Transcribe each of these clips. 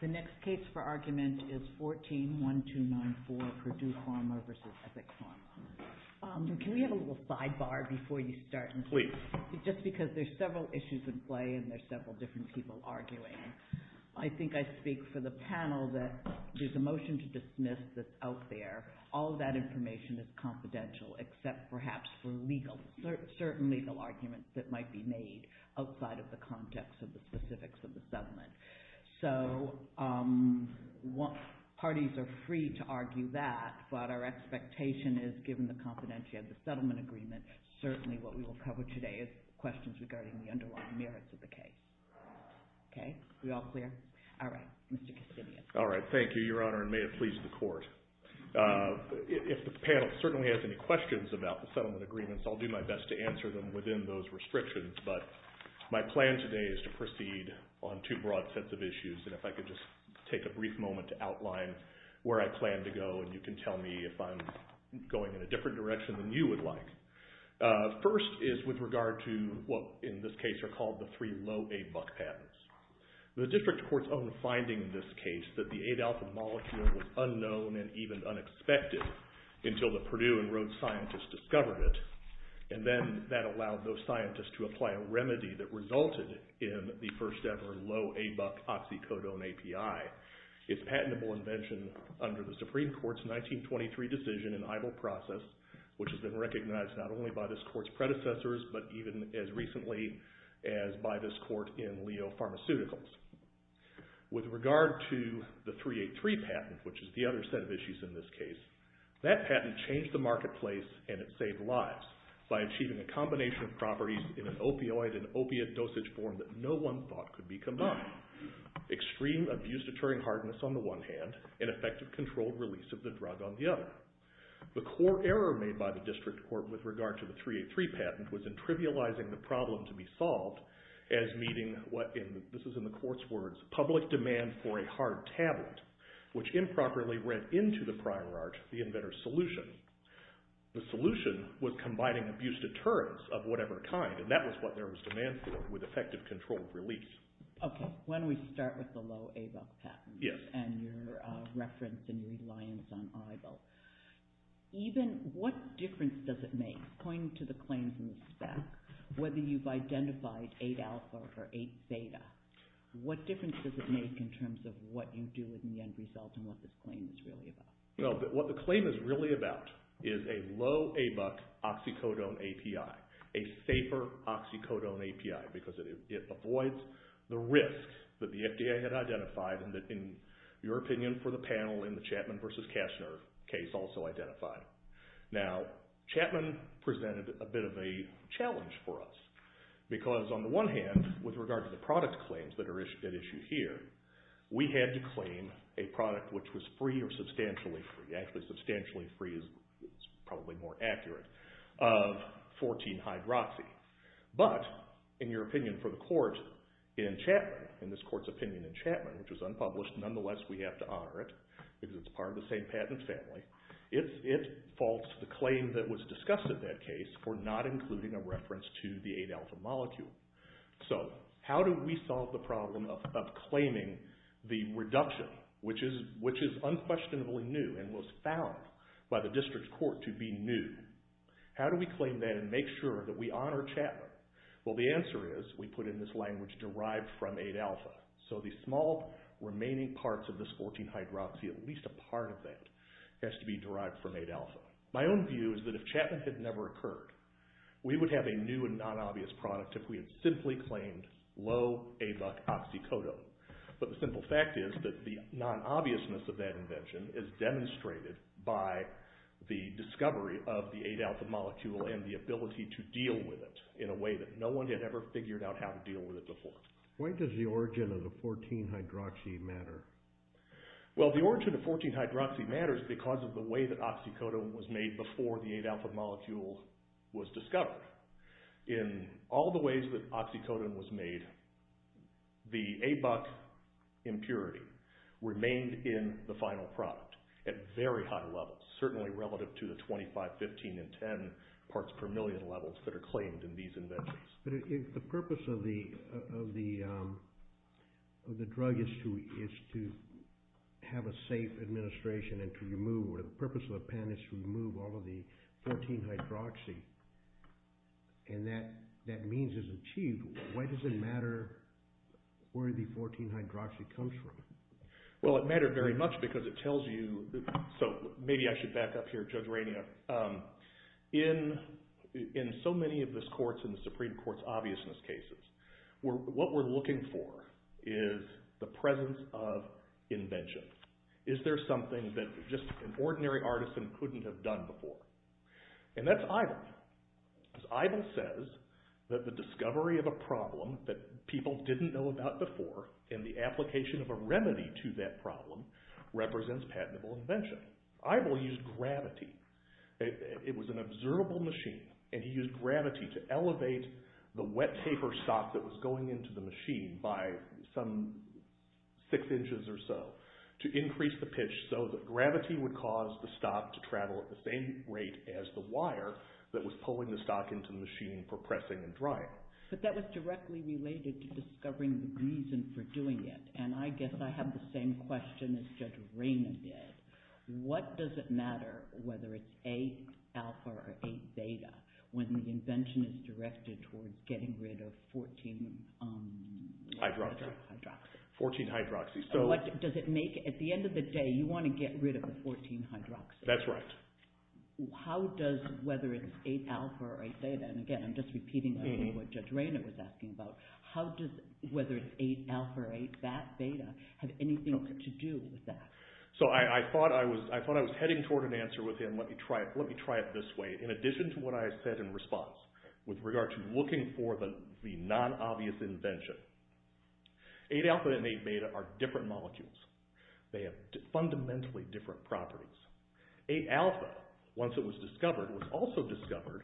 The next case for argument is 14-1294, Purdue Pharma v. Epic Pharma. Can we have a little sidebar before you start? Please. Just because there's several issues at play and there's several different people arguing. I think I speak for the panel that there's a motion to dismiss that's out there. All of that information is confidential except perhaps for legal, certain legal arguments that might be made outside of the context of the specifics of the settlement. So parties are free to argue that, but our expectation is, given the confidentiality of the settlement agreement, certainly what we will cover today is questions regarding the underlying merits of the case. Okay? We all clear? All right. Mr. Kastibian. All right. Thank you, Your Honor, and may it please the Court. If the panel certainly has any questions about the settlement agreements, I'll do my best to answer them within those restrictions, but my plan today is to proceed on two broad sets of issues, and if I could just take a brief moment to outline where I plan to go, and you can tell me if I'm going in a different direction than you would like. First is with regard to what, in this case, are called the three low ABUC patents. The district court's own finding in this case that the 8-alpha molecule was unknown and even unexpected until the Purdue and Rhodes scientists discovered it, and then that allowed those scientists to apply a remedy that resulted in the first-ever low ABUC oxycodone API. Its patentable invention under the Supreme Court's 1923 decision in idle process, which has been recognized not only by this court's predecessors, but even as recently as by this court in Leo Pharmaceuticals. With regard to the 383 patent, which is the other set of issues in this case, that patent changed the marketplace and it saved lives by achieving a combination of properties in an opioid and opiate dosage form that no one thought could be combined. Extreme abuse-deterring hardness on the one hand, and effective controlled release of the drug on the other. The core error made by the district court with regard to the 383 patent was in trivializing the problem to be solved as meeting what, this is in the court's words, public demand for a hard tablet, which improperly read into the prior art, the inventor's solution. The solution was combining abuse-deterrence of whatever kind, and that was what there was demand for, with effective controlled release. Okay. Why don't we start with the low ABUC patent? Yes. And your reference and reliance on Oribo. Even, what difference does it make, pointing to the claims in the stack, whether you've identified 8-alpha or 8-beta, what difference does it make in terms of what you do in the end result and what the claim is really about? Well, what the claim is really about is a low ABUC oxycodone API, a safer oxycodone API, because it avoids the risk that the FDA had identified and that, in your opinion, for the panel in the Chapman versus Kastner case also identified. Now, Chapman presented a bit of a challenge for us, because on the one hand, with regard to the product claims that are at issue here, we had to claim a product which was free or substantially free, actually substantially free is probably more accurate, of 14-hydroxy. But, in your opinion for the court in Chapman, in this court's opinion in Chapman, which was unpublished, nonetheless we have to honor it, because it's part of the same patent family, it falls to the claim that was discussed in that case for not including a reference to the 8-alpha molecule. So, how do we solve the problem of claiming the reduction, which is unquestionably new and was found by the district court to be new? How do we claim that and make sure that we honor Chapman? Well, the answer is we put in this language derived from 8-alpha. So, the small remaining parts of this 14-hydroxy, at least a part of that, has to be derived from 8-alpha. My own view is that if Chapman had never occurred, we would have a new and non-obvious product if we had simply claimed low ABUC oxycodone. But, the simple fact is that the non-obviousness of that invention is demonstrated by the discovery of the 8-alpha molecule and the ability to deal with it in a way that no one had ever figured out how to deal with it before. Why does the origin of the 14-hydroxy matter? Well, the origin of 14-hydroxy matters because of the way that oxycodone was made before the 8-alpha molecule was discovered. In all the ways that oxycodone was made, the ABUC impurity remained in the final product at very high levels, certainly relative to the 25, 15, and 10 parts per million levels that are claimed in these inventions. But, if the purpose of the drug is to have a safe administration and to remove, or the purpose of the pen is to remove all of the 14-hydroxy, and that means it's achieved, why does it matter where the 14-hydroxy comes from? Well, it mattered very much because it tells you, so maybe I should back up here, Judge Rainier, in so many of the Supreme Court's obviousness cases, what we're looking for is the presence of invention. Is there something that just an ordinary artisan couldn't have done before? And that's Eibel. Eibel says that the discovery of a problem that people didn't know about before in the past, and the remedy to that problem, represents patentable invention. Eibel used gravity. It was an observable machine, and he used gravity to elevate the wet paper stock that was going into the machine by some six inches or so, to increase the pitch so that gravity would cause the stock to travel at the same rate as the wire that was pulling the stock into the machine for pressing and drying. But that was directly related to discovering the reason for doing it, and I guess I have the same question as Judge Rainier did. What does it matter whether it's 8-alpha or 8-beta when the invention is directed toward getting rid of 14-hydroxy? At the end of the day, you want to get rid of the 14-hydroxy. That's right. How does whether it's 8-alpha or 8-beta, and again, I'm just repeating what Judge Rainier was asking about, how does whether it's 8-alpha or 8-beta have anything to do with that? I thought I was heading toward an answer with him. Let me try it this way. In addition to what I said in response with regard to looking for the non-obvious invention, 8-alpha and 8-beta are different molecules. They have fundamentally different properties. 8-alpha, once it was discovered, was also discovered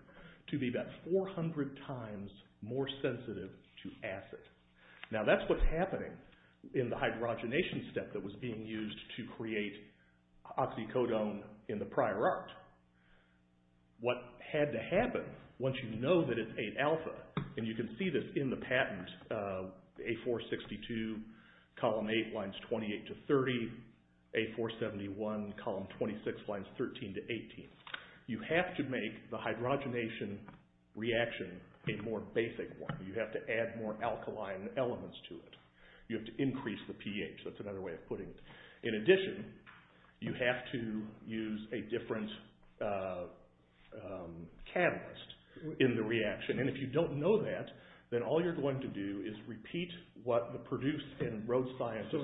to be about 400 times more sensitive to acid. Now, that's what's happening in the hydrogenation step that was being used to create oxycodone in the prior art. What had to happen, once you know that it's 8-alpha, and you can see this in the patent, A462, column 8, lines 28 to 30. A471, column 26, lines 13 to 18. You have to make the hydrogenation reaction a more basic one. You have to add more alkaline elements to it. You have to increase the pH. That's another way of putting it. In addition, you have to use a different catalyst in the reaction. If you don't know that, then all you're going to do is repeat what the Purdue and Rhodes scientists...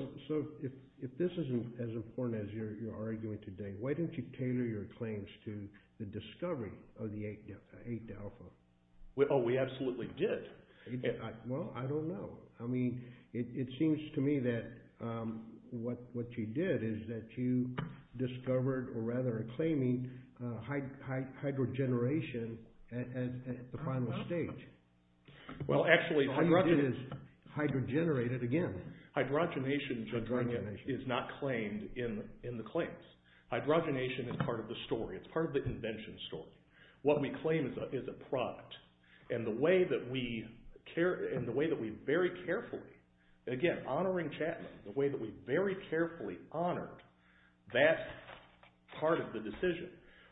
If this isn't as important as you're arguing today, why didn't you tailor your claims to the discovery of the 8-alpha? Oh, we absolutely did. Well, I don't know. I mean, it seems to me that what you did is that you discovered, or rather claiming, hydrogenation at the final stage. Well, actually... So all you did is hydrogenate it again. Hydrogenation is not claimed in the claims. Hydrogenation is part of the story. It's part of the invention story. What we claim is a product. And the way that we very carefully...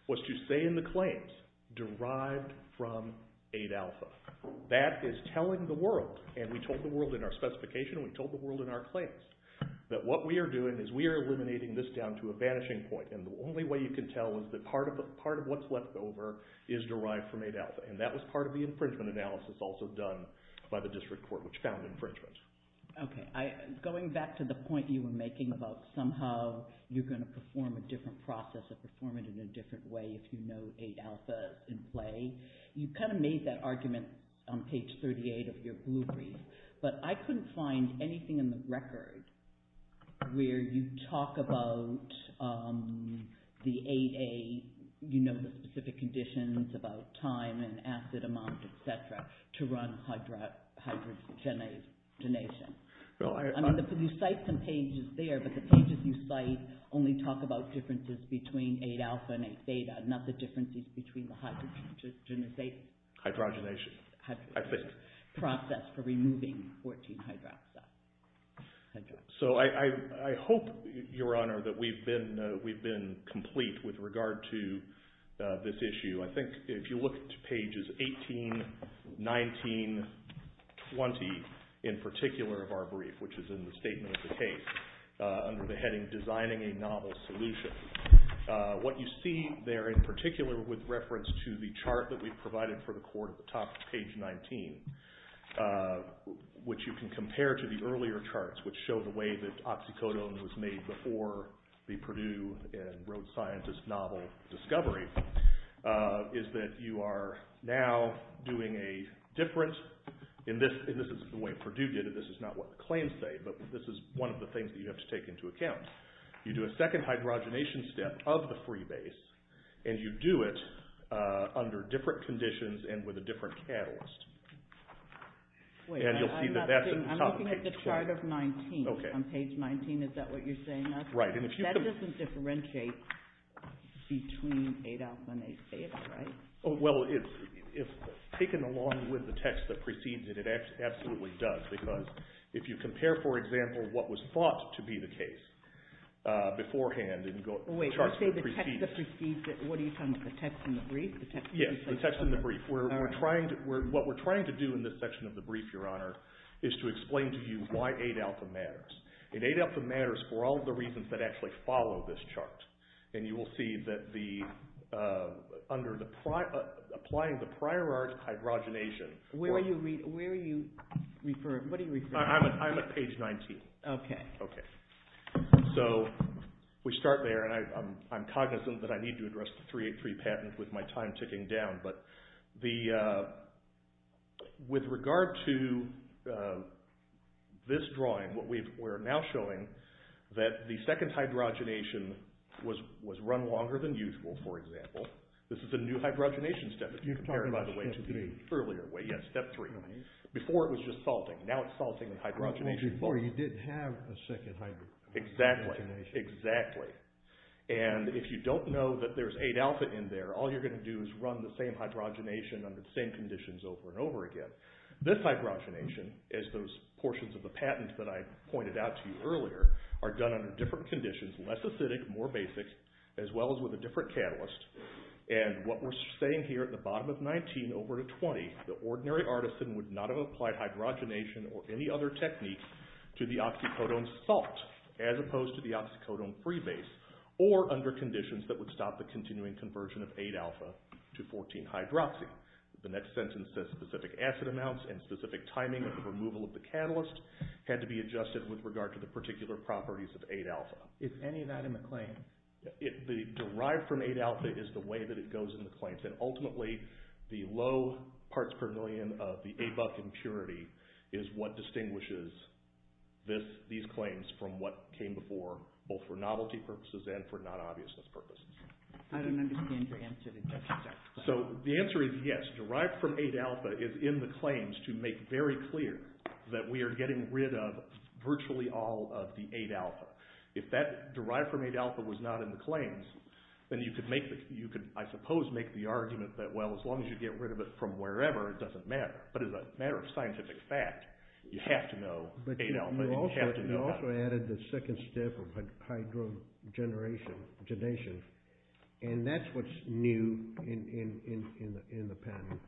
What you say in the claims, derived from 8-alpha. That is telling the world, and we told the world in our specification, and we told the world in our claims, that what we are doing is we are eliminating this down to a vanishing point. And the only way you can tell is that part of what's left over is derived from 8-alpha. And that was part of the infringement analysis also done by the district court, which found infringement. Okay. Going back to the point you were making about somehow you're going to perform a different process and perform it in a different way if you know 8-alpha in play. You kind of made that argument on page 38 of your blueprint. But I couldn't find anything in the record where you talk about the 8-A, you know the specific conditions about time and acid amount, et cetera, to run hydrogenation. You cite some pages there, but the pages you cite only talk about differences between 8-alpha and 8-theta, not the differences between the hydrogenization. Hydrogenation, I think. Process for removing 14-hydroxide. So I hope, Your Honor, that we've been complete with regard to this issue. I think if you look at pages 18, 19, 20 in particular of our brief, which is in the statement of the case, under the heading Designing a Novel Solution, what you see there in particular with reference to the chart that we provided for the court at the top, page 19, which you can compare to the earlier charts, which show the way that oxycodone was made before the case, is that you are now doing a different, and this is the way Purdue did it, this is not what the claims say, but this is one of the things that you have to take into account. You do a second hydrogenation step of the free base, and you do it under different conditions and with a different catalyst. And you'll see that that's at the top of page 12. I'm looking at the chart of 19. On page 19, is that what you're saying? That doesn't differentiate between 8-alpha and 8-beta, right? Well, if taken along with the text that precedes it, it absolutely does. Because if you compare, for example, what was thought to be the case beforehand in the charts that precede it. Wait, you're saying the text that precedes it? What are you talking about, the text in the brief? Yes, the text in the brief. What we're trying to do in this section of the brief, Your Honor, is to explain to you why 8-alpha matters. And 8-alpha matters for all the reasons that actually follow this chart. And you will see that applying the prior art hydrogenation. Where are you referring? I'm at page 19. Okay. Okay. So we start there, and I'm cognizant that I need to address the 383 patent with my time ticking down. But with regard to this drawing, we're now showing that the second hydrogenation was run longer than usual, for example. This is a new hydrogenation step, if you compare it by the way to the earlier way. Yes, step three. Before it was just salting. Now it's salting the hydrogenation. Before you didn't have a second hydrogenation. Exactly. Exactly. And if you don't know that there's 8-alpha in there, all you're going to do is run the same hydrogenation under the same conditions over and over again. This hydrogenation, as those portions of the patent that I pointed out to you earlier, are done under different conditions, less acidic, more basic, as well as with a different catalyst. And what we're saying here at the bottom of 19 over to 20, the ordinary artisan would not have applied hydrogenation or any other technique to the oxycodone salt, as opposed to the oxycodone free base, or under conditions that would stop the continuing conversion of 8-alpha to 14-hydroxy. The next sentence says specific acid amounts and specific timing of the removal of the catalyst had to be adjusted with regard to the particular properties of 8-alpha. Is any of that in the claim? The derived from 8-alpha is the way that it goes in the claims. And ultimately, the low parts per million of the 8-buck impurity is what distinguishes these claims from what came before, both for novelty purposes and for non-obviousness purposes. I don't understand your answer to that. So the answer is yes. Derived from 8-alpha is in the claims to make very clear that we are getting rid of virtually all of the 8-alpha. If that derived from 8-alpha was not in the claims, then you could, I suppose, make the argument that, well, as long as you get rid of it from wherever, it doesn't matter. But as a matter of scientific fact, you have to know 8-alpha. But you also added the second step of hydrogenation. And that's what's new in the patent.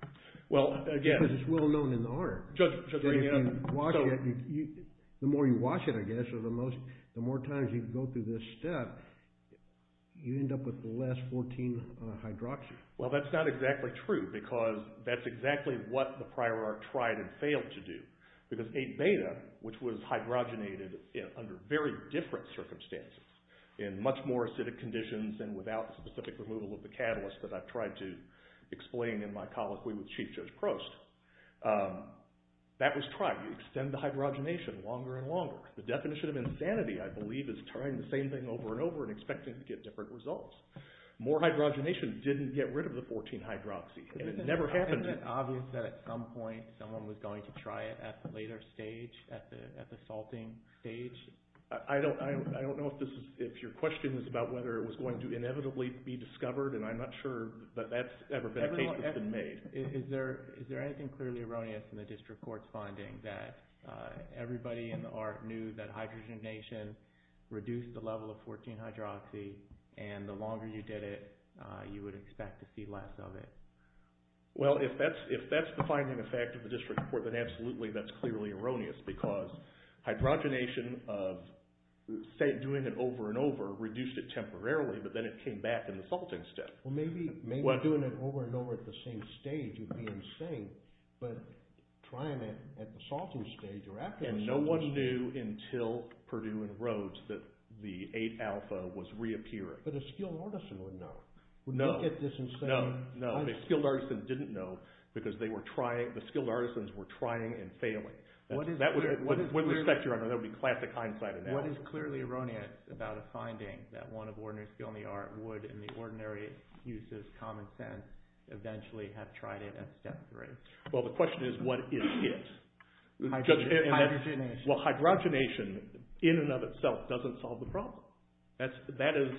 Well, again... Because it's well known in the art. Just to bring it up... The more you watch it, I guess, the more times you go through this step, you end up with the last 14-hydroxy. Well, that's not exactly true, because that's exactly what the prior art tried and failed to do. Because 8-beta, which was hydrogenated under very different circumstances, in much more acidic conditions and without the specific removal of the catalyst that I've tried to explain in my colloquy with Chief Judge Prost, that was tried. You extend the hydrogenation longer and longer. The definition of insanity, I believe, is trying the same thing over and over and expecting to get different results. More hydrogenation didn't get rid of the 14-hydroxy. And it never happened. Isn't it obvious that at some point, someone was going to try it at the later stage, at the salting stage? I don't know if your question is about whether it was going to inevitably be discovered. And I'm not sure that that's ever been a case that's been made. Is there anything clearly erroneous in the district court's finding that everybody in And the longer you did it, you would expect to see less of it. Well, if that's the finding effect of the district court, then absolutely that's clearly erroneous. Because hydrogenation of doing it over and over reduced it temporarily, but then it came back in the salting step. Well, maybe doing it over and over at the same stage would be insane. But trying it at the salting stage or after the salting stage... But a skilled artisan would know. No. No. A skilled artisan didn't know because the skilled artisans were trying and failing. With respect, Your Honor, that would be classic hindsight. What is clearly erroneous about a finding that one of ordinary skill in the art would, in the ordinary use of common sense, eventually have tried it at step three? Well, the question is, what is it? Hydrogenation. Well, hydrogenation in and of itself doesn't solve the problem. That is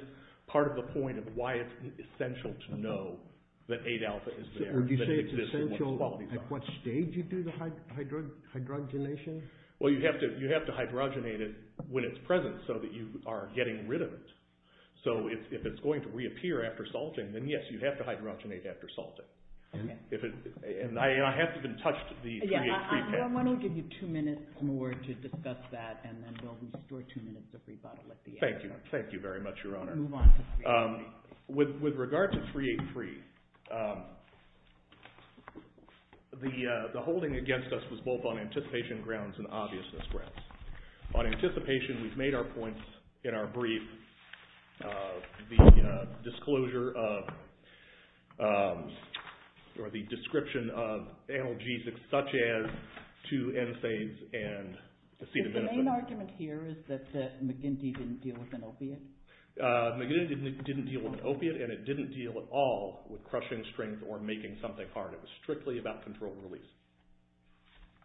part of the point of why it's essential to know that 8-alpha is there. Or do you say it's essential at what stage you do the hydrogenation? Well, you have to hydrogenate it when it's present so that you are getting rid of it. So if it's going to reappear after salting, then yes, you have to hydrogenate after salting. And I haven't even touched the 3-H pre-patch. I'm going to give you two minutes more to discuss that, and then we'll restore two minutes of rebuttal at the end. Thank you. Thank you very much, Your Honor. Move on to 3-H pre. With regard to 3-H pre, the holding against us was both on anticipation grounds and obviousness grounds. On anticipation, we've made our points in our brief. The disclosure of or the description of analgesics such as 2-N-sase and acetaminophen. The main argument here is that McGinty didn't deal with an opiate? McGinty didn't deal with an opiate, and it didn't deal at all with crushing strings or making something hard. It was strictly about control and release.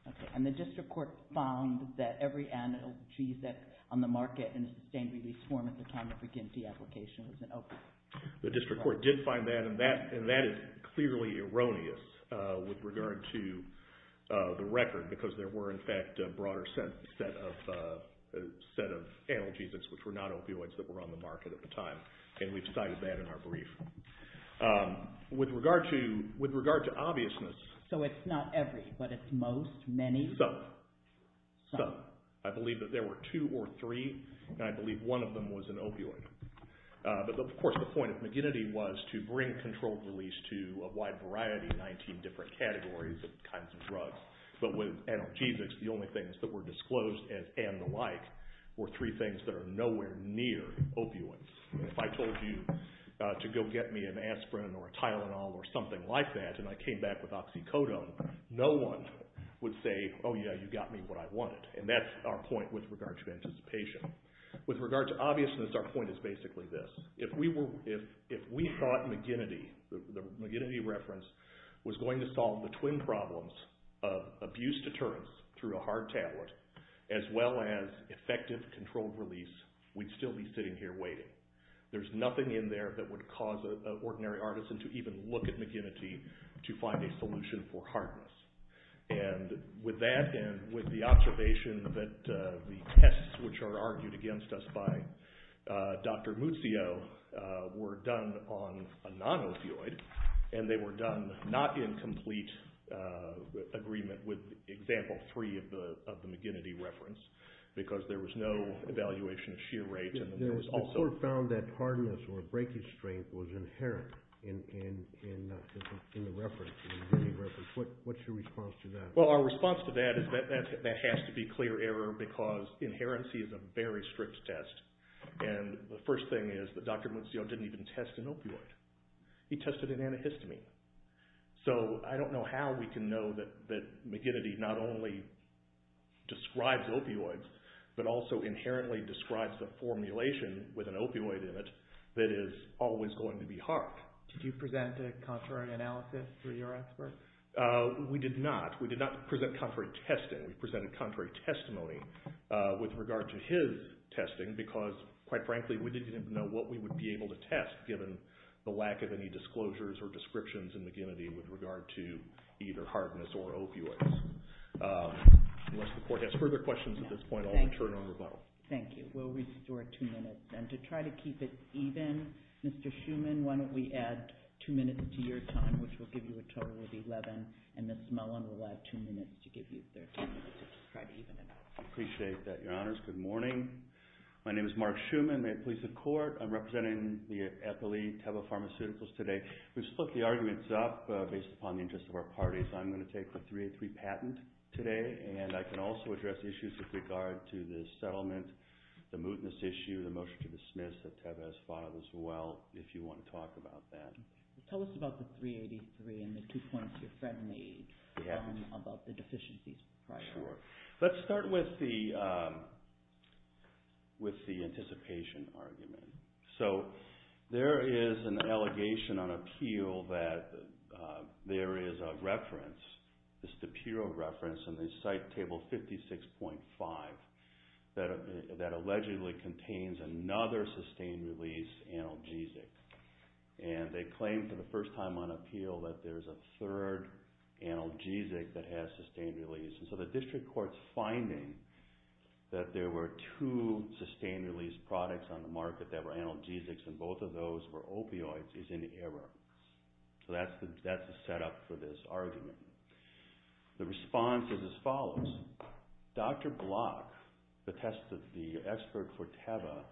Okay. And the district court found that every analgesic on the market in a sustained release form at the time of McGinty application was an opiate? The district court did find that, and that is clearly erroneous with regard to the record because there were, in fact, a broader set of analgesics which were not opioids that were on the market at the time, and we've cited that in our brief. With regard to obviousness. So it's not every, but it's most, many? Some. Some. I believe that there were two or three, and I believe one of them was an opioid. But, of course, the point of McGinty was to bring control and release to a wide variety of 19 different categories of kinds of drugs. But with analgesics, the only things that were disclosed as and the like were three things that are nowhere near opioids. If I told you to go get me an aspirin or a Tylenol or something like that and I came back with oxycodone, no one would say, oh, yeah, you got me what I wanted. And that's our point with regard to anticipation. With regard to obviousness, our point is basically this. If we thought McGinty, the McGinty reference, was going to solve the twin problems of abuse deterrence through a hard tablet as well as effective controlled release, we'd still be sitting here waiting. There's nothing in there that would cause an ordinary artisan to even look at McGinty to find a solution for hardness. And with that and with the observation that the tests which are argued against us by Dr. Muzio were done on a non-opioid, and they were done not in complete agreement with example three of the McGinty reference, because there was no evaluation of shear rate and there was also- The court found that hardness or breakage strength was inherent in the reference, the McGinty reference. What's your response to that? Well, our response to that is that that has to be clear error because inherency is a very strict test. And the first thing is that Dr. Muzio didn't even test an opioid. He tested an antihistamine. So I don't know how we can know that McGinty not only describes opioids, but also inherently describes the formulation with an opioid in it that is always going to be hard. Did you present a contrary analysis for your expert? We did not. We did not present contrary testing. We presented contrary testimony with regard to his testing because, quite frankly, we didn't even know what we would be able to test given the lack of any disclosures or descriptions in McGinty with regard to either hardness or opioids. Unless the court has further questions at this point, I'll return on rebuttal. Thank you. We'll restore two minutes. And to try to keep it even, Mr. Schuman, why don't we add two minutes to your time, which will give you a total of 11, and Ms. Mullen will add two minutes to give you 13 minutes to try to even it out. I appreciate that, Your Honors. Good morning. My name is Mark Schuman. I'm a police of court. I'm representing the epilete Teva Pharmaceuticals today. We've split the arguments up based upon the interests of our parties. I'm going to take the 383 patent today, and I can also address issues with regard to the settlement, the mootness issue, the motion to dismiss that Teva has filed as well, if you want to talk about that. Tell us about the 383 and the two points your friend made about the deficiencies. Let's start with the anticipation argument. So there is an allegation on appeal that there is a reference, a superior reference in the Site Table 56.5 that allegedly contains another sustained release analgesic. And they claim for the first time on appeal that there is a third analgesic that has sustained release. And so the district court's finding that there were two sustained release products on the market that were analgesics and both of those were opioids is in error. So that's the setup for this argument. The response is as follows. Dr. Block, the expert for Teva,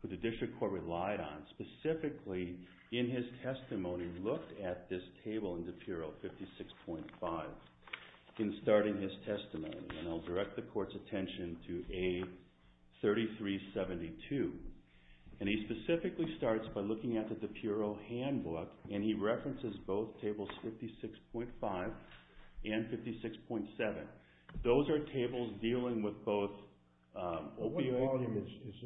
who the district court relied on, specifically in his testimony looked at this table in DePuro 56.5 in starting his testimony. And I'll direct the court's attention to A3372. And he specifically starts by looking at the DePuro handbook, and he references both tables 56.5 and 56.7. Those are tables dealing with both opioids. What volume is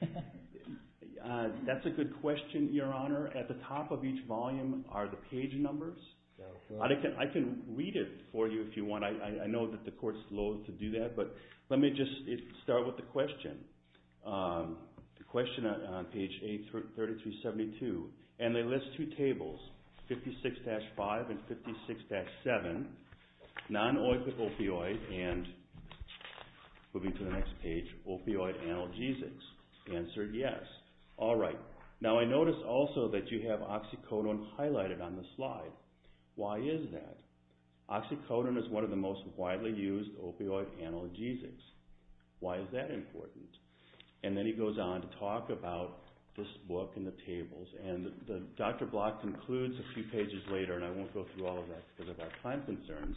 this? That's a good question, Your Honor. At the top of each volume are the page numbers. I can read it for you if you want. I know that the court's loathe to do that, but let me just start with the question. The question on page A3372. And they list two tables, 56-5 and 56-7, non-oipic opioids and, moving to the next page, opioid analgesics. The answer is yes. All right. Now I notice also that you have oxycodone highlighted on the slide. Why is that? Oxycodone is one of the most widely used opioid analgesics. Why is that important? And then he goes on to talk about this book and the tables. And Dr. Block concludes a few pages later, and I won't go through all of that because of our time concerns,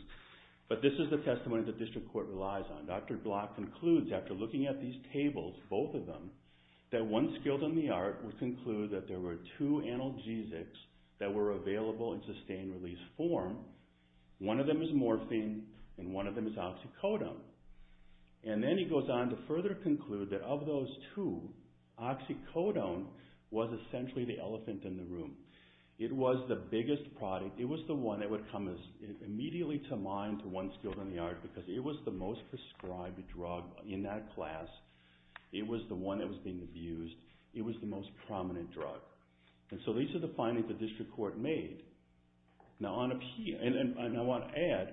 but this is the testimony the district court relies on. Dr. Block concludes, after looking at these tables, both of them, that one skilled in the art would conclude that there were two analgesics that were available in sustained release form. One of them is morphine and one of them is oxycodone. And then he goes on to further conclude that of those two, oxycodone was essentially the elephant in the room. It was the biggest product. It was the one that would come immediately to mind to one skilled in the art because it was the most prescribed drug in that class. It was the one that was being abused. It was the most prominent drug. And so these are the findings the district court made. Now, I want to add,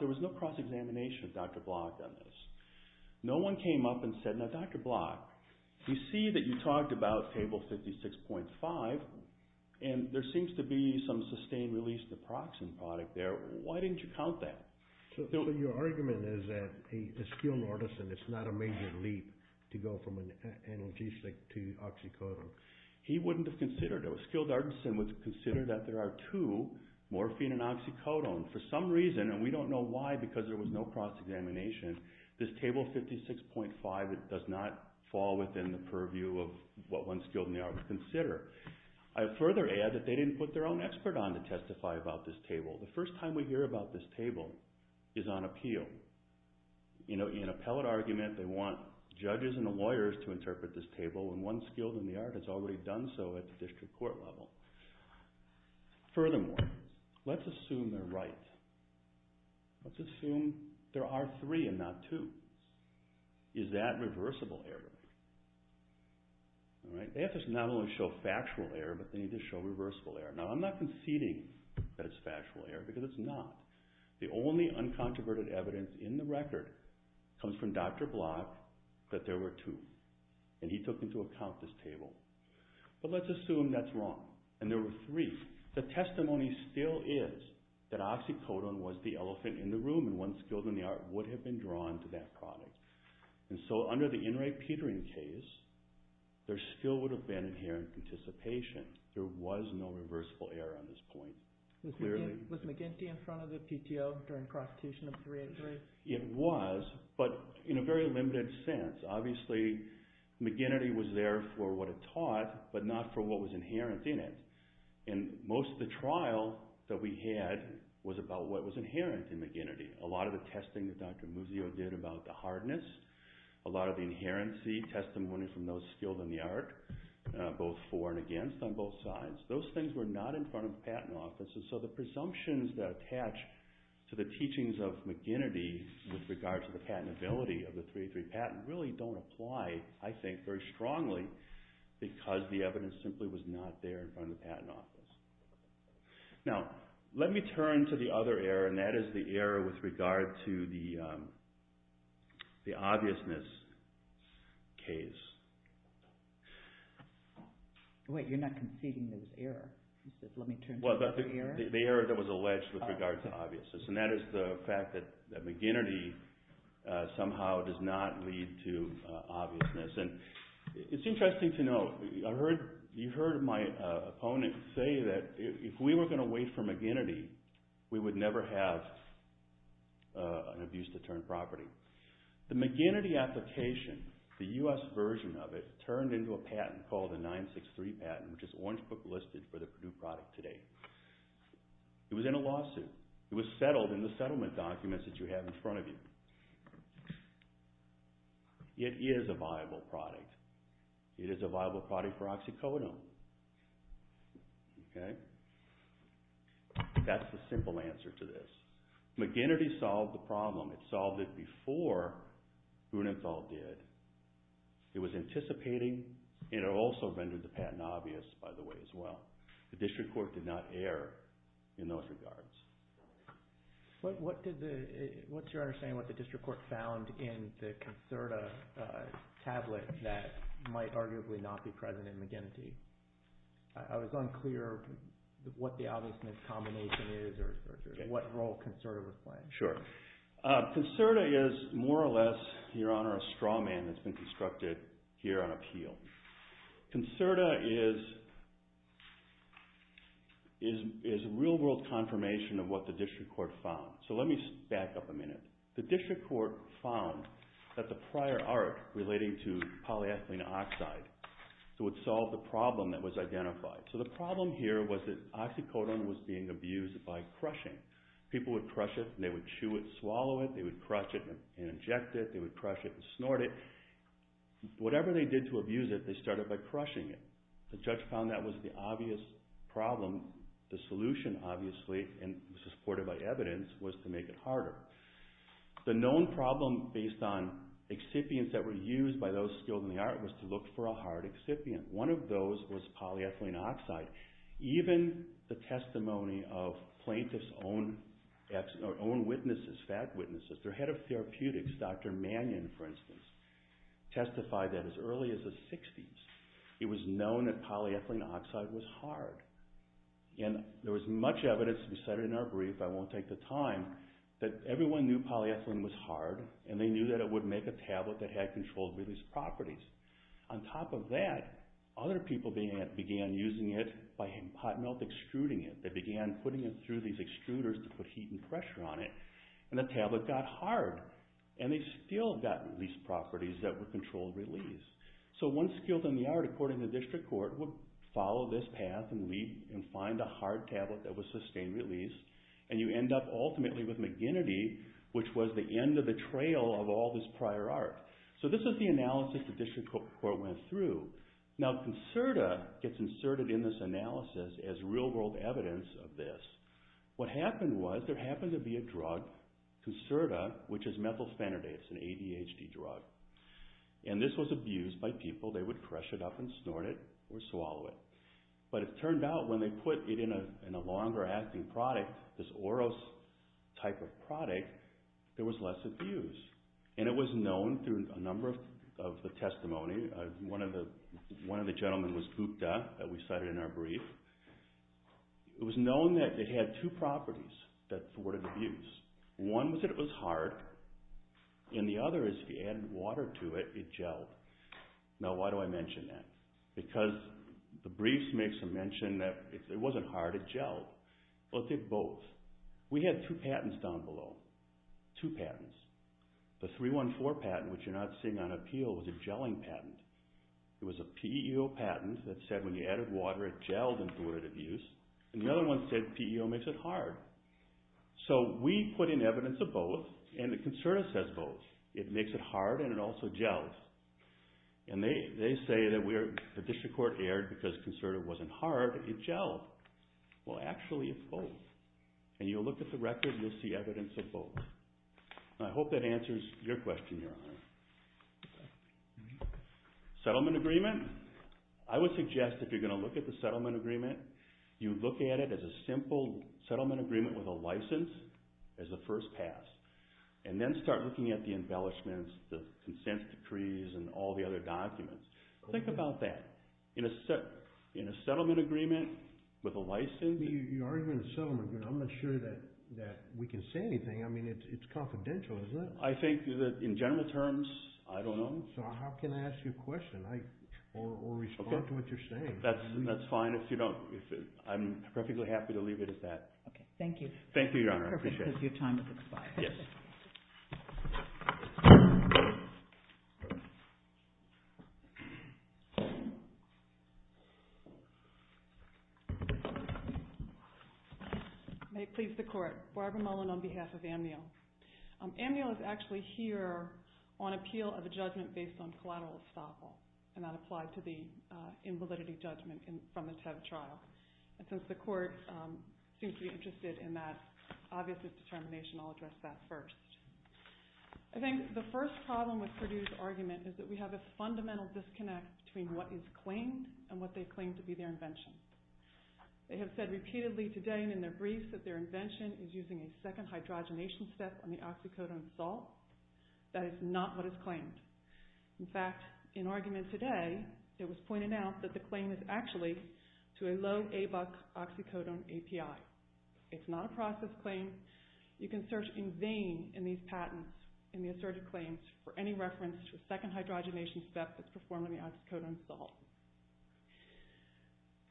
there was no cross-examination of Dr. Block on this. No one came up and said, now, Dr. Block, you see that you talked about table 56.5, and there seems to be some sustained release naproxen product there. Why didn't you count that? Your argument is that a skilled artisan, it's not a major leap to go from an analgesic to oxycodone. He wouldn't have considered it. A skilled artisan would consider that there are two, morphine and oxycodone, for some reason, and we don't know why because there was no cross-examination. This table 56.5, it does not fall within the purview of what one skilled in the art would consider. I further add that they didn't put their own expert on to testify about this table. The first time we hear about this table is on appeal. In an appellate argument, they want judges and lawyers to interpret this table, and one skilled in the art has already done so at the district court level. Furthermore, let's assume they're right. Let's assume there are three and not two. Is that reversible error? They have to not only show factual error, but they need to show reversible error. Now, I'm not conceding that it's factual error because it's not. The only uncontroverted evidence in the record comes from Dr. Block that there were two, and he took into account this table. But let's assume that's wrong, and there were three. The testimony still is that oxycodone was the elephant in the room, and one skilled in the art would have been drawn to that product. And so under the Enright-Petering case, there still would have been inherent participation. There was no reversible error on this point. Was McGinty in front of the PTO during prostitution of 383? It was, but in a very limited sense. Obviously, McGinty was there for what it taught, but not for what was inherent in it. And most of the trial that we had was about what was inherent in McGinty. A lot of the testing that Dr. Muzio did about the hardness, a lot of the inherency testimony from those skilled in the art, both for and against on both sides, those things were not in front of the Patent Office. And so the presumptions that attach to the teachings of McGinty with regard to the patentability of the 383 patent really don't apply, I think, very strongly because the evidence simply was not there in front of the Patent Office. Now, let me turn to the other error, and that is the error with regard to the obviousness case. Wait, you're not conceding there was error? The error that was alleged with regard to obviousness, and that is the fact that McGinty somehow does not lead to obviousness. And it's interesting to note, you heard my opponent say that if we were going to wait for McGinty, we would never have an abuse deterrent property. The McGinty application, the U.S. version of it, turned into a patent called the 963 patent, which is Orange Book listed for the Purdue product today. It was in a lawsuit. It was settled in the settlement documents that you have in front of you. It is a viable product. It is a viable product for oxycodone. That's the simple answer to this. McGinty solved the problem. It solved it before Grunenthal did. It was anticipating, and it also rendered the patent obvious, by the way, as well. The district court did not err in those regards. What's your understanding of what the district court found in the Concerta tablet that might arguably not be present in McGinty? I was unclear what the obviousness combination is or what role Concerta was playing. Concerta is more or less, Your Honor, a straw man that's been constructed here on appeal. Concerta is real-world confirmation of what the district court found. Let me back up a minute. The district court found that the prior art relating to polyethylene oxide would solve the problem that was identified. The problem here was that oxycodone was being abused by crushing. People would crush it, and they would chew it, swallow it. They would crush it and inject it. They would crush it and snort it. Whatever they did to abuse it, they started by crushing it. The judge found that was the obvious problem. The solution, obviously, and was supported by evidence, was to make it harder. The known problem based on excipients that were used by those skilled in the art was to look for a hard excipient. One of those was polyethylene oxide. Even the testimony of plaintiffs' own witnesses, fact witnesses, their head of therapeutics, Dr. Mannion, for instance, testified that as early as the 60s, it was known that polyethylene oxide was hard. There was much evidence, we said in our brief, I won't take the time, that everyone knew polyethylene was hard, and they knew that it would make a tablet that had controlled release properties. On top of that, other people began using it by hot melt extruding it. They began putting it through these extruders to put heat and pressure on it, and the tablet got hard. They still got release properties that were controlled release. One skilled in the art, according to district court, would follow this path and find a hard tablet that was sustained release, and you end up ultimately with McGinnity, which was the end of the trail of all this prior art. This is the analysis the district court went through. Concerta gets inserted in this analysis as real-world evidence of this. What happened was there happened to be a drug, Concerta, which is methylphenidate, it's an ADHD drug, and this was abused by people. They would crush it up and snort it or swallow it, but it turned out when they put it in a longer-acting product, this Oros type of product, there was less abuse, and it was known through a number of the testimony. One of the gentlemen was Gupta that we cited in our brief. It was known that it had two properties that thwarted abuse. One was that it was hard, and the other is if you added water to it, it gelled. Now, why do I mention that? Because the brief makes a mention that it wasn't hard, it gelled. Well, it did both. We had two patents down below, two patents. The 314 patent, which you're not seeing on appeal, was a gelling patent. It was a PEO patent that said when you added water, it gelled and thwarted abuse, and the other one said PEO makes it hard. So we put in evidence of both, and the concerta says both. It makes it hard, and it also gels. And they say that the district court erred because concerta wasn't hard. It gelled. Well, actually, it's both. And you'll look at the record, and you'll see evidence of both. I hope that answers your question, Your Honor. Settlement agreement. I would suggest if you're going to look at the settlement agreement, you look at it as a simple settlement agreement with a license as the first pass, and then start looking at the embellishments, the consent decrees, and all the other documents. Think about that. In a settlement agreement with a license. You're arguing a settlement agreement. I'm not sure that we can say anything. I mean, it's confidential, isn't it? I think that in general terms, I don't know. So how can I ask you a question or respond to what you're saying? That's fine. I'm perfectly happy to leave it at that. Thank you. Thank you, Your Honor. I appreciate it. Because your time has expired. Yes. May it please the Court. Barbara Mullen on behalf of AMNIL. AMNIL is actually here on appeal of a judgment based on collateral estoppel, and that applied to the invalidity judgment from the Tev trial. And since the Court seems to be interested in that obvious determination, I'll address that first. I think the first problem with Perdue's argument is that we have a fundamental disconnect between what is claimed and what they claim to be their invention. They have said repeatedly today and in their briefs that their invention is using a second hydrogenation step on the oxycodone salt. That is not what is claimed. In fact, in argument today, it was pointed out that the claim is actually to a low ABUX oxycodone API. It's not a process claim. You can search in vain in these patents, in the asserted claims, for any reference to a second hydrogenation step that's performed on the oxycodone salt.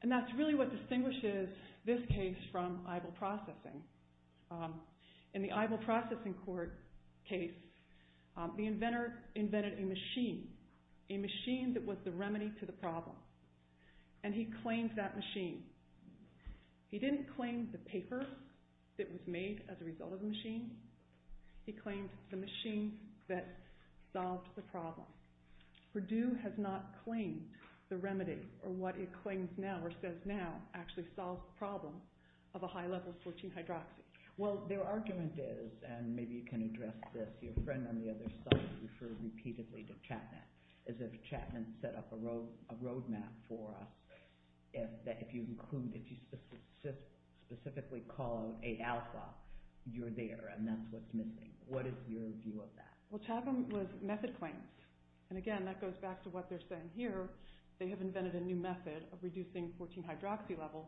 And that's really what distinguishes this case from EIBL processing. In the EIBL processing case, the inventor invented a machine, a machine that was the remedy to the problem, and he claimed that machine. He didn't claim the paper that was made as a result of the machine. He claimed the machine that solved the problem. Perdue has not claimed the remedy or what it claims now or says now that actually solves the problem of a high-level 14-hydroxy. Well, their argument is, and maybe you can address this, your friend on the other side referred repeatedly to Chapman, is that Chapman set up a roadmap for us that if you include, if you specifically call A-alpha, you're there, and that's what's missing. What is your view of that? Well, Chapman was method-claimed. And again, that goes back to what they're saying here. They have invented a new method of reducing 14-hydroxy levels,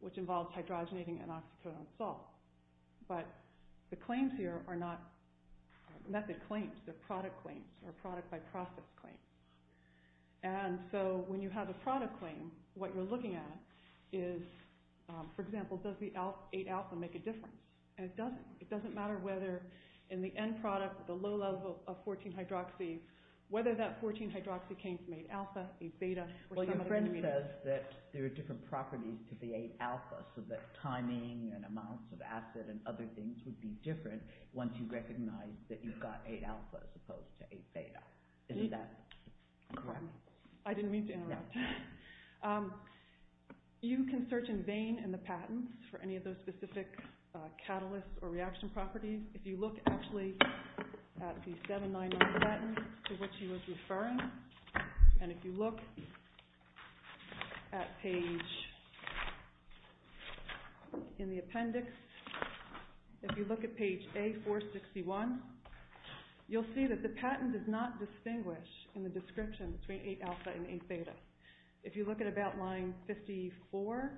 which involves hydrogenating an oxycodone salt. But the claims here are not method claims. They're product claims or product-by-process claims. And so when you have a product claim, what you're looking at is, for example, does the 8-alpha make a difference? And it doesn't. It doesn't matter whether in the end product, the low level of 14-hydroxy, whether that 14-hydroxy came from 8-alpha, 8-beta. Well, your friend says that there are different properties to the 8-alpha, so that timing and amounts of acid and other things would be different once you recognize that you've got 8-alpha as opposed to 8-beta. Isn't that correct? I didn't mean to interrupt. You can search in vain in the patents for any of those specific catalysts or reaction properties. If you look actually at the 799 patent to which he was referring and if you look at page in the appendix, if you look at page A461, you'll see that the patent does not distinguish in the description between 8-alpha and 8-beta. If you look at about line 54,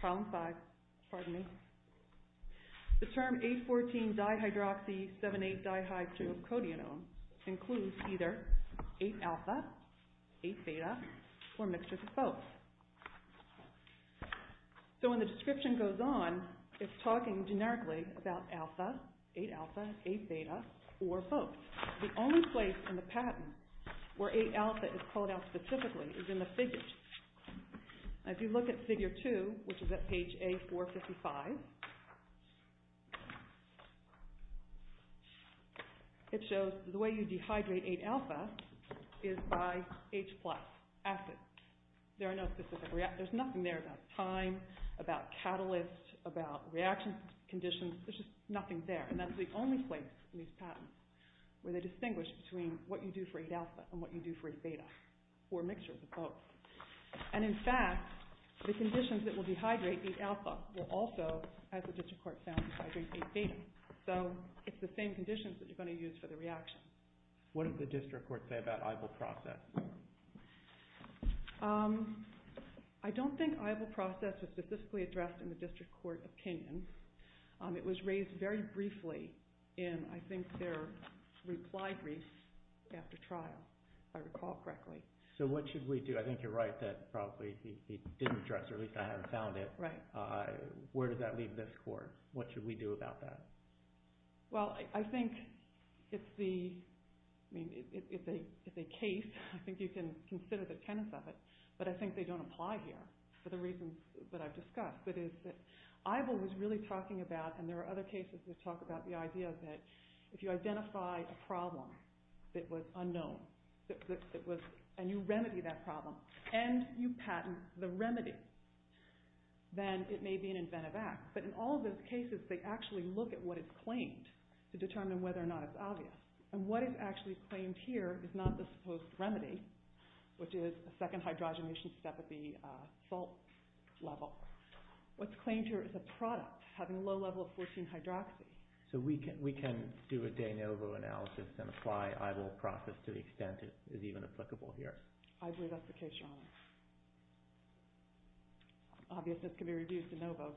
column 5, pardon me, the term 8-14-dihydroxy-7-8-dihydrocodienone includes either 8-alpha, 8-beta, or a mixture of both. So when the description goes on, it's talking generically about alpha, 8-alpha, 8-beta, or both. The only place in the patent where 8-alpha is called out specifically is in the figures. If you look at figure 2, which is at page A455, it shows the way you dehydrate 8-alpha is by H+, acid. There's nothing there about time, about catalysts, about reaction conditions. There's just nothing there, and that's the only place in these patents where they distinguish between what you do for 8-alpha and what you do for 8-beta or a mixture of both. And in fact, the conditions that will dehydrate 8-alpha will also, as the district court found, dehydrate 8-beta. So it's the same conditions that you're going to use for the reaction. What does the district court say about EIBL process? I don't think EIBL process was specifically addressed in the district court opinion. It was raised very briefly in, I think, their reply brief after trial, if I recall correctly. So what should we do? I think you're right that probably it didn't address, or at least I haven't found it. Where does that leave this court? What should we do about that? Well, I think it's a case. I think you can consider the tenets of it, but I think they don't apply here for the reasons that I've discussed. EIBL was really talking about, and there are other cases that talk about the idea that if you identify a problem that was unknown and you remedy that problem and you patent the remedy, then it may be an inventive act. But in all those cases, they actually look at what is claimed to determine whether or not it's obvious. And what is actually claimed here is not the supposed remedy, which is a second hydrogenation step at the salt level. What's claimed here is a product having a low level of 14-hydroxy. So we can do a de novo analysis and apply EIBL's process to the extent it is even applicable here. I believe that's the case, Your Honor. Obviousness can be reduced to novo,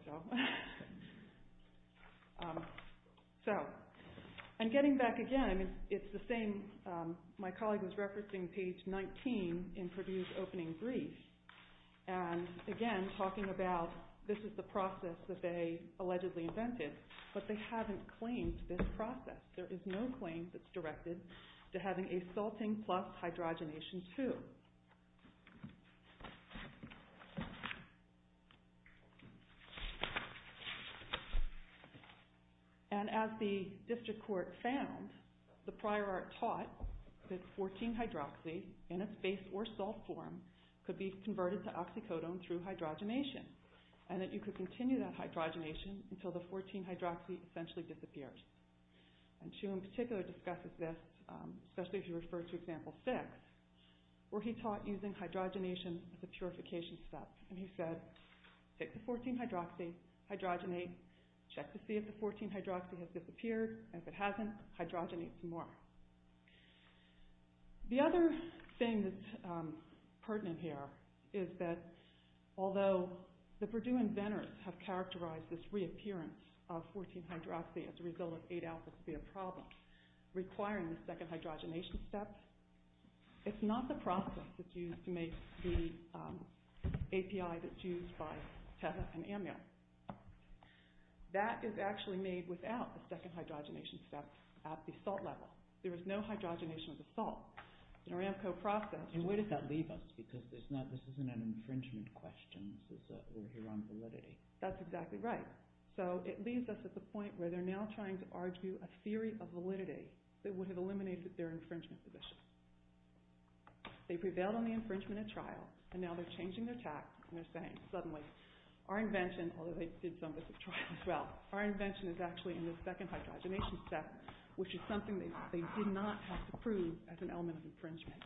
though. And getting back again, it's the same. My colleague was referencing page 19 in Purdue's opening brief, and again talking about this is the process that they allegedly invented, but they haven't claimed this process. There is no claim that's directed to having a salting plus hydrogenation two. And as the district court found, the prior art taught that 14-hydroxy, in its base or salt form, could be converted to oxycodone through hydrogenation and that you could continue that hydrogenation until the 14-hydroxy essentially disappears. And Hsu in particular discusses this, especially if you refer to example 6, where he taught using hydrogenation as a purification step. And he said, take the 14-hydroxy, hydrogenate, check to see if the 14-hydroxy has disappeared, and if it hasn't, hydrogenate some more. The other thing that's pertinent here is that although the Purdue inventors have characterized this reappearance of 14-hydroxy as a result of 8-alpha could be a problem, requiring the second hydrogenation step, it's not the process that's used to make the API that's used by Teza and Amil. That is actually made without the second hydrogenation step at the salt level. There is no hydrogenation of the salt. And where did that leave us? Because this isn't an infringement question. This is all here on validity. That's exactly right. So it leaves us at the point where they're now trying to argue a theory of validity that would have eliminated their infringement position. They prevailed on the infringement at trial, and now they're changing their tack, and they're saying, suddenly, our invention, although they did some of this at trial as well, our invention is actually in the second hydrogenation step, which is something they did not have to prove as an element of infringement.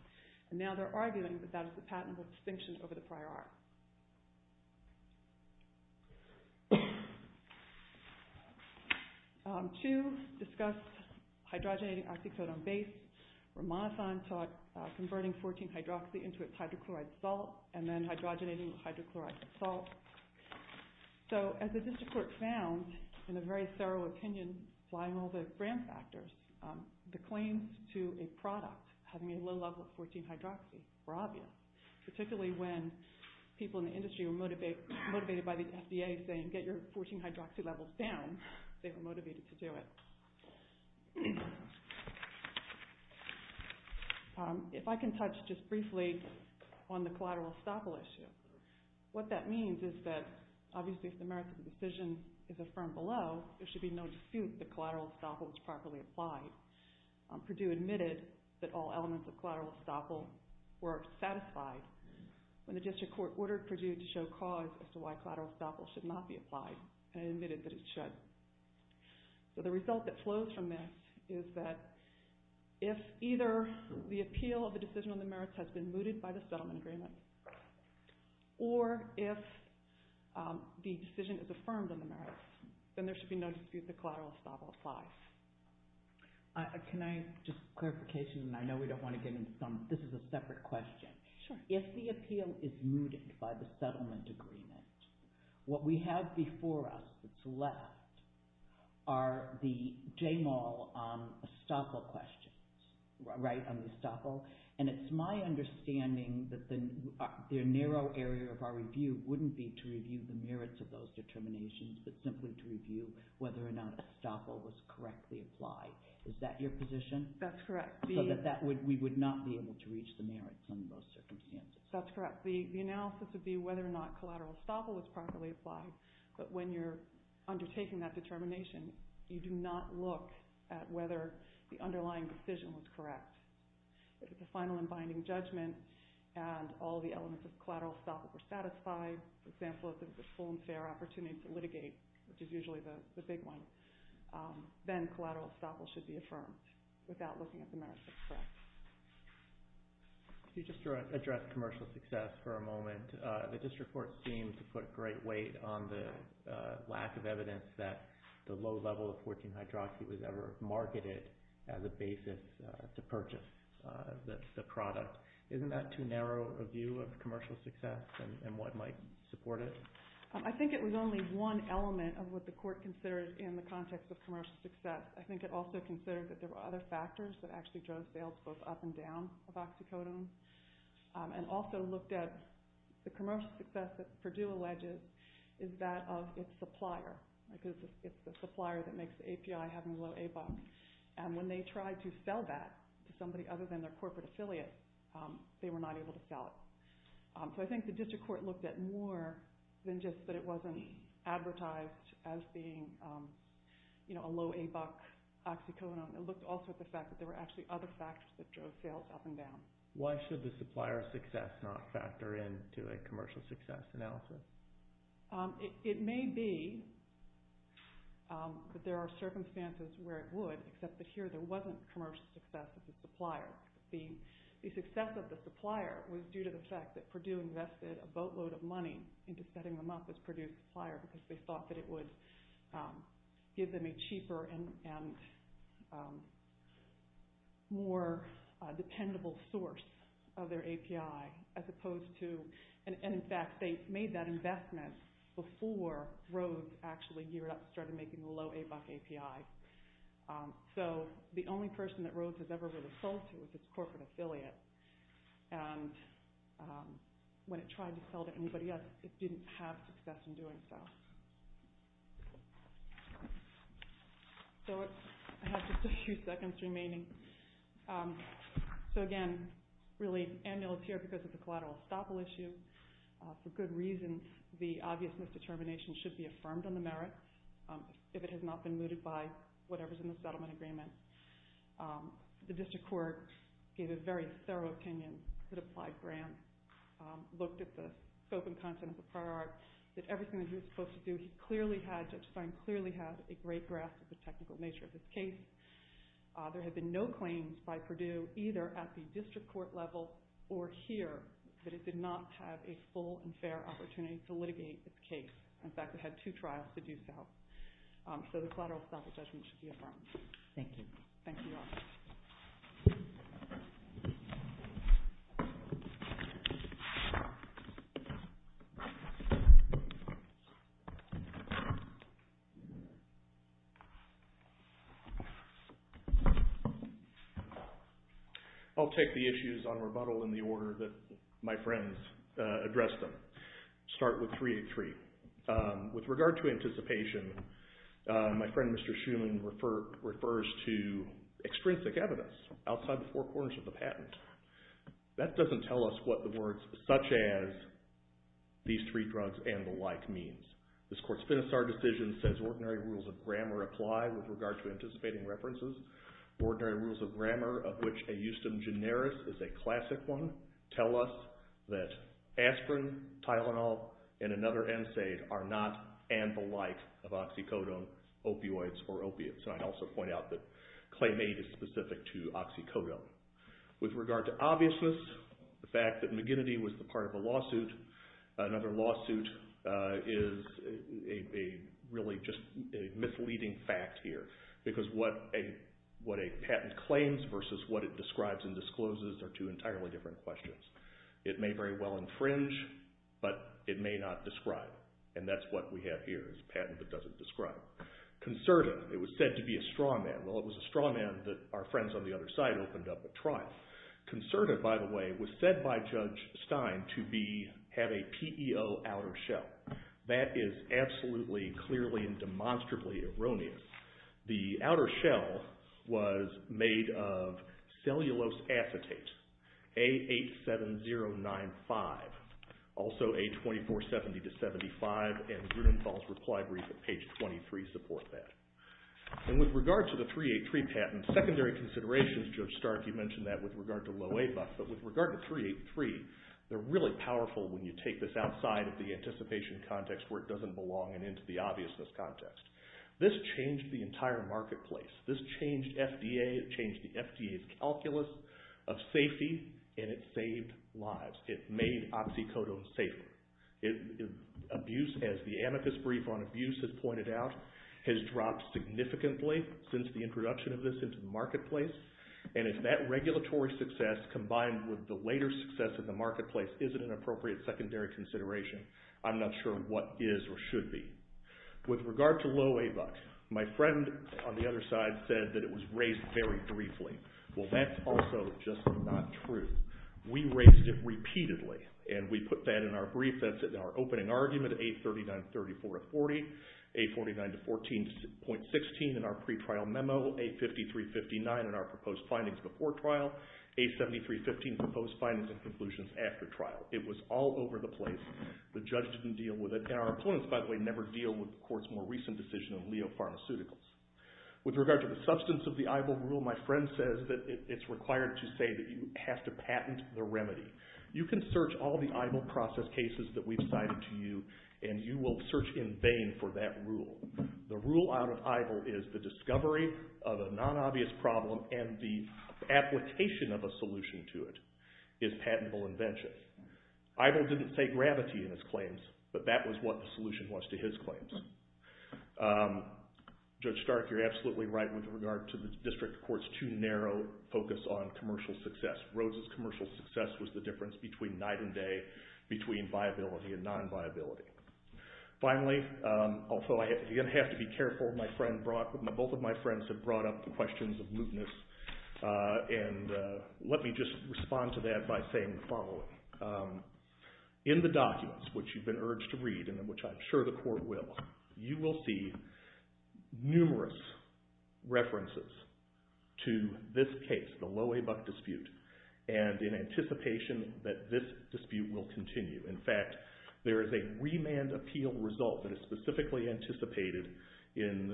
And now they're arguing that that is a patentable distinction over the prior art. Two discussed hydrogenating oxycodone base. Ramanathan talked about converting 14-hydroxy into its hydrochloride salt and then hydrogenating the hydrochloride salt. So as the district court found, in a very thorough opinion, applying all the grant factors, the claims to a product having a low level of 14-hydroxy were obvious, particularly when people in the industry were motivated by the FDA saying, get your 14-hydroxy levels down. They were motivated to do it. If I can touch just briefly on the collateral estoppel issue, what that means is that, obviously, if the merits of the decision is affirmed below, there should be no dispute that collateral estoppel is properly applied. Purdue admitted that all elements of collateral estoppel were satisfied when the district court ordered Purdue to show cause as to why collateral estoppel should not be applied and admitted that it should. So the result that flows from that is that if either the appeal of the decision on the merits has been mooted by the settlement agreement, or if the decision is affirmed on the merits, then there should be no dispute that collateral estoppel applies. Can I just, for clarification, and I know we don't want to get into some, this is a separate question. If the appeal is mooted by the settlement agreement, what we have before us that's left are the J-Mall estoppel questions, right, on the estoppel. And it's my understanding that the narrow area of our review wouldn't be to review the merits of those determinations, but simply to review whether or not estoppel was correctly applied. Is that your position? That's correct. So that we would not be able to reach the merits under those circumstances. That's correct. The analysis would be whether or not collateral estoppel was properly applied, but when you're undertaking that determination, you do not look at whether the underlying decision was correct. If it's a final and binding judgment, and all the elements of collateral estoppel were satisfied, for example, if it was a full and fair opportunity to litigate, which is usually the big one, then collateral estoppel should be affirmed without looking at the merits. That's correct. Could you just address commercial success for a moment? The district court seemed to put a great weight on the lack of evidence that the low level of 14-hydroxy was ever marketed as a basis to purchase the product. Isn't that too narrow a view of commercial success and what might support it? I think it was only one element of what the court considered in the context of commercial success. I think it also considered that there were other factors that actually drove sales both up and down of oxycodone, and also looked at the commercial success that Purdue alleges is that of its supplier, because it's the supplier that makes the API having a low A-buck, and when they tried to sell that to somebody other than their corporate affiliate, they were not able to sell it. So I think the district court looked at more than just that it wasn't advertised as being a low A-buck oxycodone. It looked also at the fact that there were actually other factors that drove sales up and down. Why should the supplier's success not factor into a commercial success analysis? It may be that there are circumstances where it would, except that here there wasn't commercial success of the supplier. The success of the supplier was due to the fact that Purdue invested a boatload of money into setting them up as Purdue's supplier because they thought that it would give them a cheaper and more dependable source of their API, as opposed to, and in fact they made that investment before Rhodes actually geared up and started making the low A-buck API. So the only person that Rhodes has ever really sold to is its corporate affiliate, and when it tried to sell to anybody else, it didn't have success in doing so. So I have just a few seconds remaining. So again, really, Amil is here because of the collateral estoppel issue. For good reason, the obvious misdetermination should be affirmed on the merits if it has not been mooted by whatever is in the settlement agreement. The district court gave a very thorough opinion to the applied grant, looked at the scope and content of the prior art, that everything that he was supposed to do, he clearly had, Judge Stein clearly had, a great grasp of the technical nature of this case. There have been no claims by Purdue, either at the district court level or here, that it did not have a full and fair opportunity to litigate this case. In fact, it had two trials to do so. So the collateral estoppel judgment should be affirmed. Thank you. Thank you, Amil. I'll take the issues on rebuttal in the order that my friends addressed them. Start with 383. With regard to anticipation, my friend, Mr. Schuman, refers to extrinsic evidence outside the four corners of the patent. That doesn't tell us what the words such as these three drugs and the like means. This court's Finisar decision says ordinary rules of grammar apply with regard to anticipating references. Ordinary rules of grammar, of which a justum generis is a classic one, tell us that aspirin, Tylenol, and another NSAID are not and the like of oxycodone, opioids, or opiates. And I'd also point out that claim eight is specific to oxycodone. With regard to obviousness, the fact that McGinnity was the part of a lawsuit, another lawsuit, is really just a misleading fact here because what a patent claims versus what it describes and discloses are two entirely different questions. It may very well infringe, but it may not describe. And that's what we have here is a patent that doesn't describe. Concerted, it was said to be a straw man. Well, it was a straw man that our friends on the other side opened up at trial. Concerted, by the way, was said by Judge Stein to have a PEO outer shell. That is absolutely, clearly, and demonstrably erroneous. The outer shell was made of cellulose acetate, A87095, also A2470-75, and Grudenfeld's reply brief at page 23 support that. And with regard to the 383 patent, secondary considerations, Judge Stark, you mentioned that with regard to Loewe, but with regard to 383, they're really powerful when you take this outside of the anticipation context where it doesn't belong and into the obviousness context. This changed the entire marketplace. This changed FDA. It changed the FDA's calculus of safety, and it saved lives. It made oxycodone safer. Abuse, as the amethyst brief on abuse has pointed out, has dropped significantly since the introduction of this into the marketplace, and if that regulatory success combined with the later success in the marketplace isn't an appropriate secondary consideration, I'm not sure what is or should be. With regard to Loewe, my friend on the other side said that it was raised very briefly. Well, that's also just not true. We raised it repeatedly, and we put that in our brief. That's in our opening argument, A39-3440, A49-14.16 in our pre-trial memo, A53-59 in our proposed findings before trial, A73-15 proposed findings and conclusions after trial. It was all over the place. The judge didn't deal with it, and our opponents, by the way, never deal with the court's more recent decision in Leo Pharmaceuticals. With regard to the substance of the EIBO rule, my friend says that it's required to say that you have to patent the remedy. You can search all the EIBO process cases that we've cited to you, and you will search in vain for that rule. The rule out of EIBO is the discovery of a non-obvious problem and the application of a solution to it is patentable invention. EIBO didn't say gravity in its claims, but that was what the solution was to his claims. Judge Stark, you're absolutely right with regard to the district court's too narrow focus on commercial success. Rhodes' commercial success was the difference between night and day, between viability and non-viability. Finally, although I again have to be careful, both of my friends have brought up the questions of mootness, and let me just respond to that by saying the following. In the documents, which you've been urged to read and which I'm sure the court will, you will see numerous references to this case, the Loewe Buck dispute, and in anticipation that this dispute will continue. In fact, there is a remand appeal result that is specifically anticipated in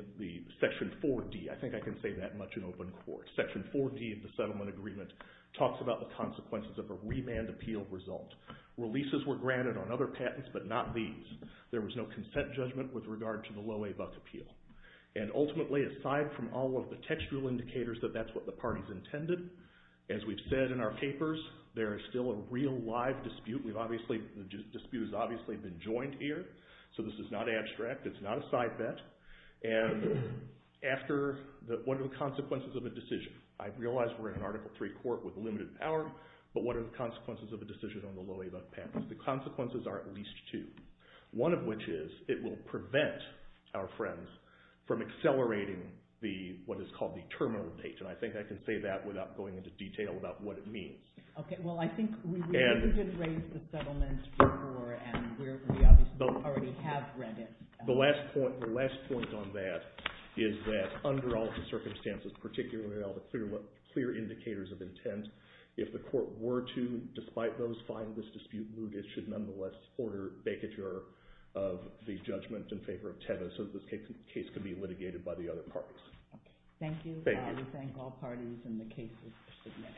Section 4D. I think I can say that much in open court. Section 4D of the settlement agreement talks about the consequences of a remand appeal result. Releases were granted on other patents, but not these. There was no consent judgment with regard to the Loewe Buck appeal. And ultimately, aside from all of the textual indicators that that's what the parties intended, as we've said in our papers, there is still a real live dispute. The dispute has obviously been joined here, so this is not abstract. It's not a side bet. And what are the consequences of a decision? I realize we're in an Article III court with limited power, but what are the consequences of a decision on the Loewe Buck patent? The consequences are at least two. One of which is it will prevent our friends from accelerating what is called the terminal date, and I think I can say that without going into detail about what it means. Okay, well, I think we really did raise the settlement before, and we obviously already have read it. The last point on that is that under all of the circumstances, particularly all the clear indicators of intent, if the court were to, despite those findings, dispute Loewe, it should nonetheless order a vacature of the judgment in favor of TEDA so that this case can be litigated by the other parties. Thank you. Thank you. I thank all parties and the cases that submitted. Thank you.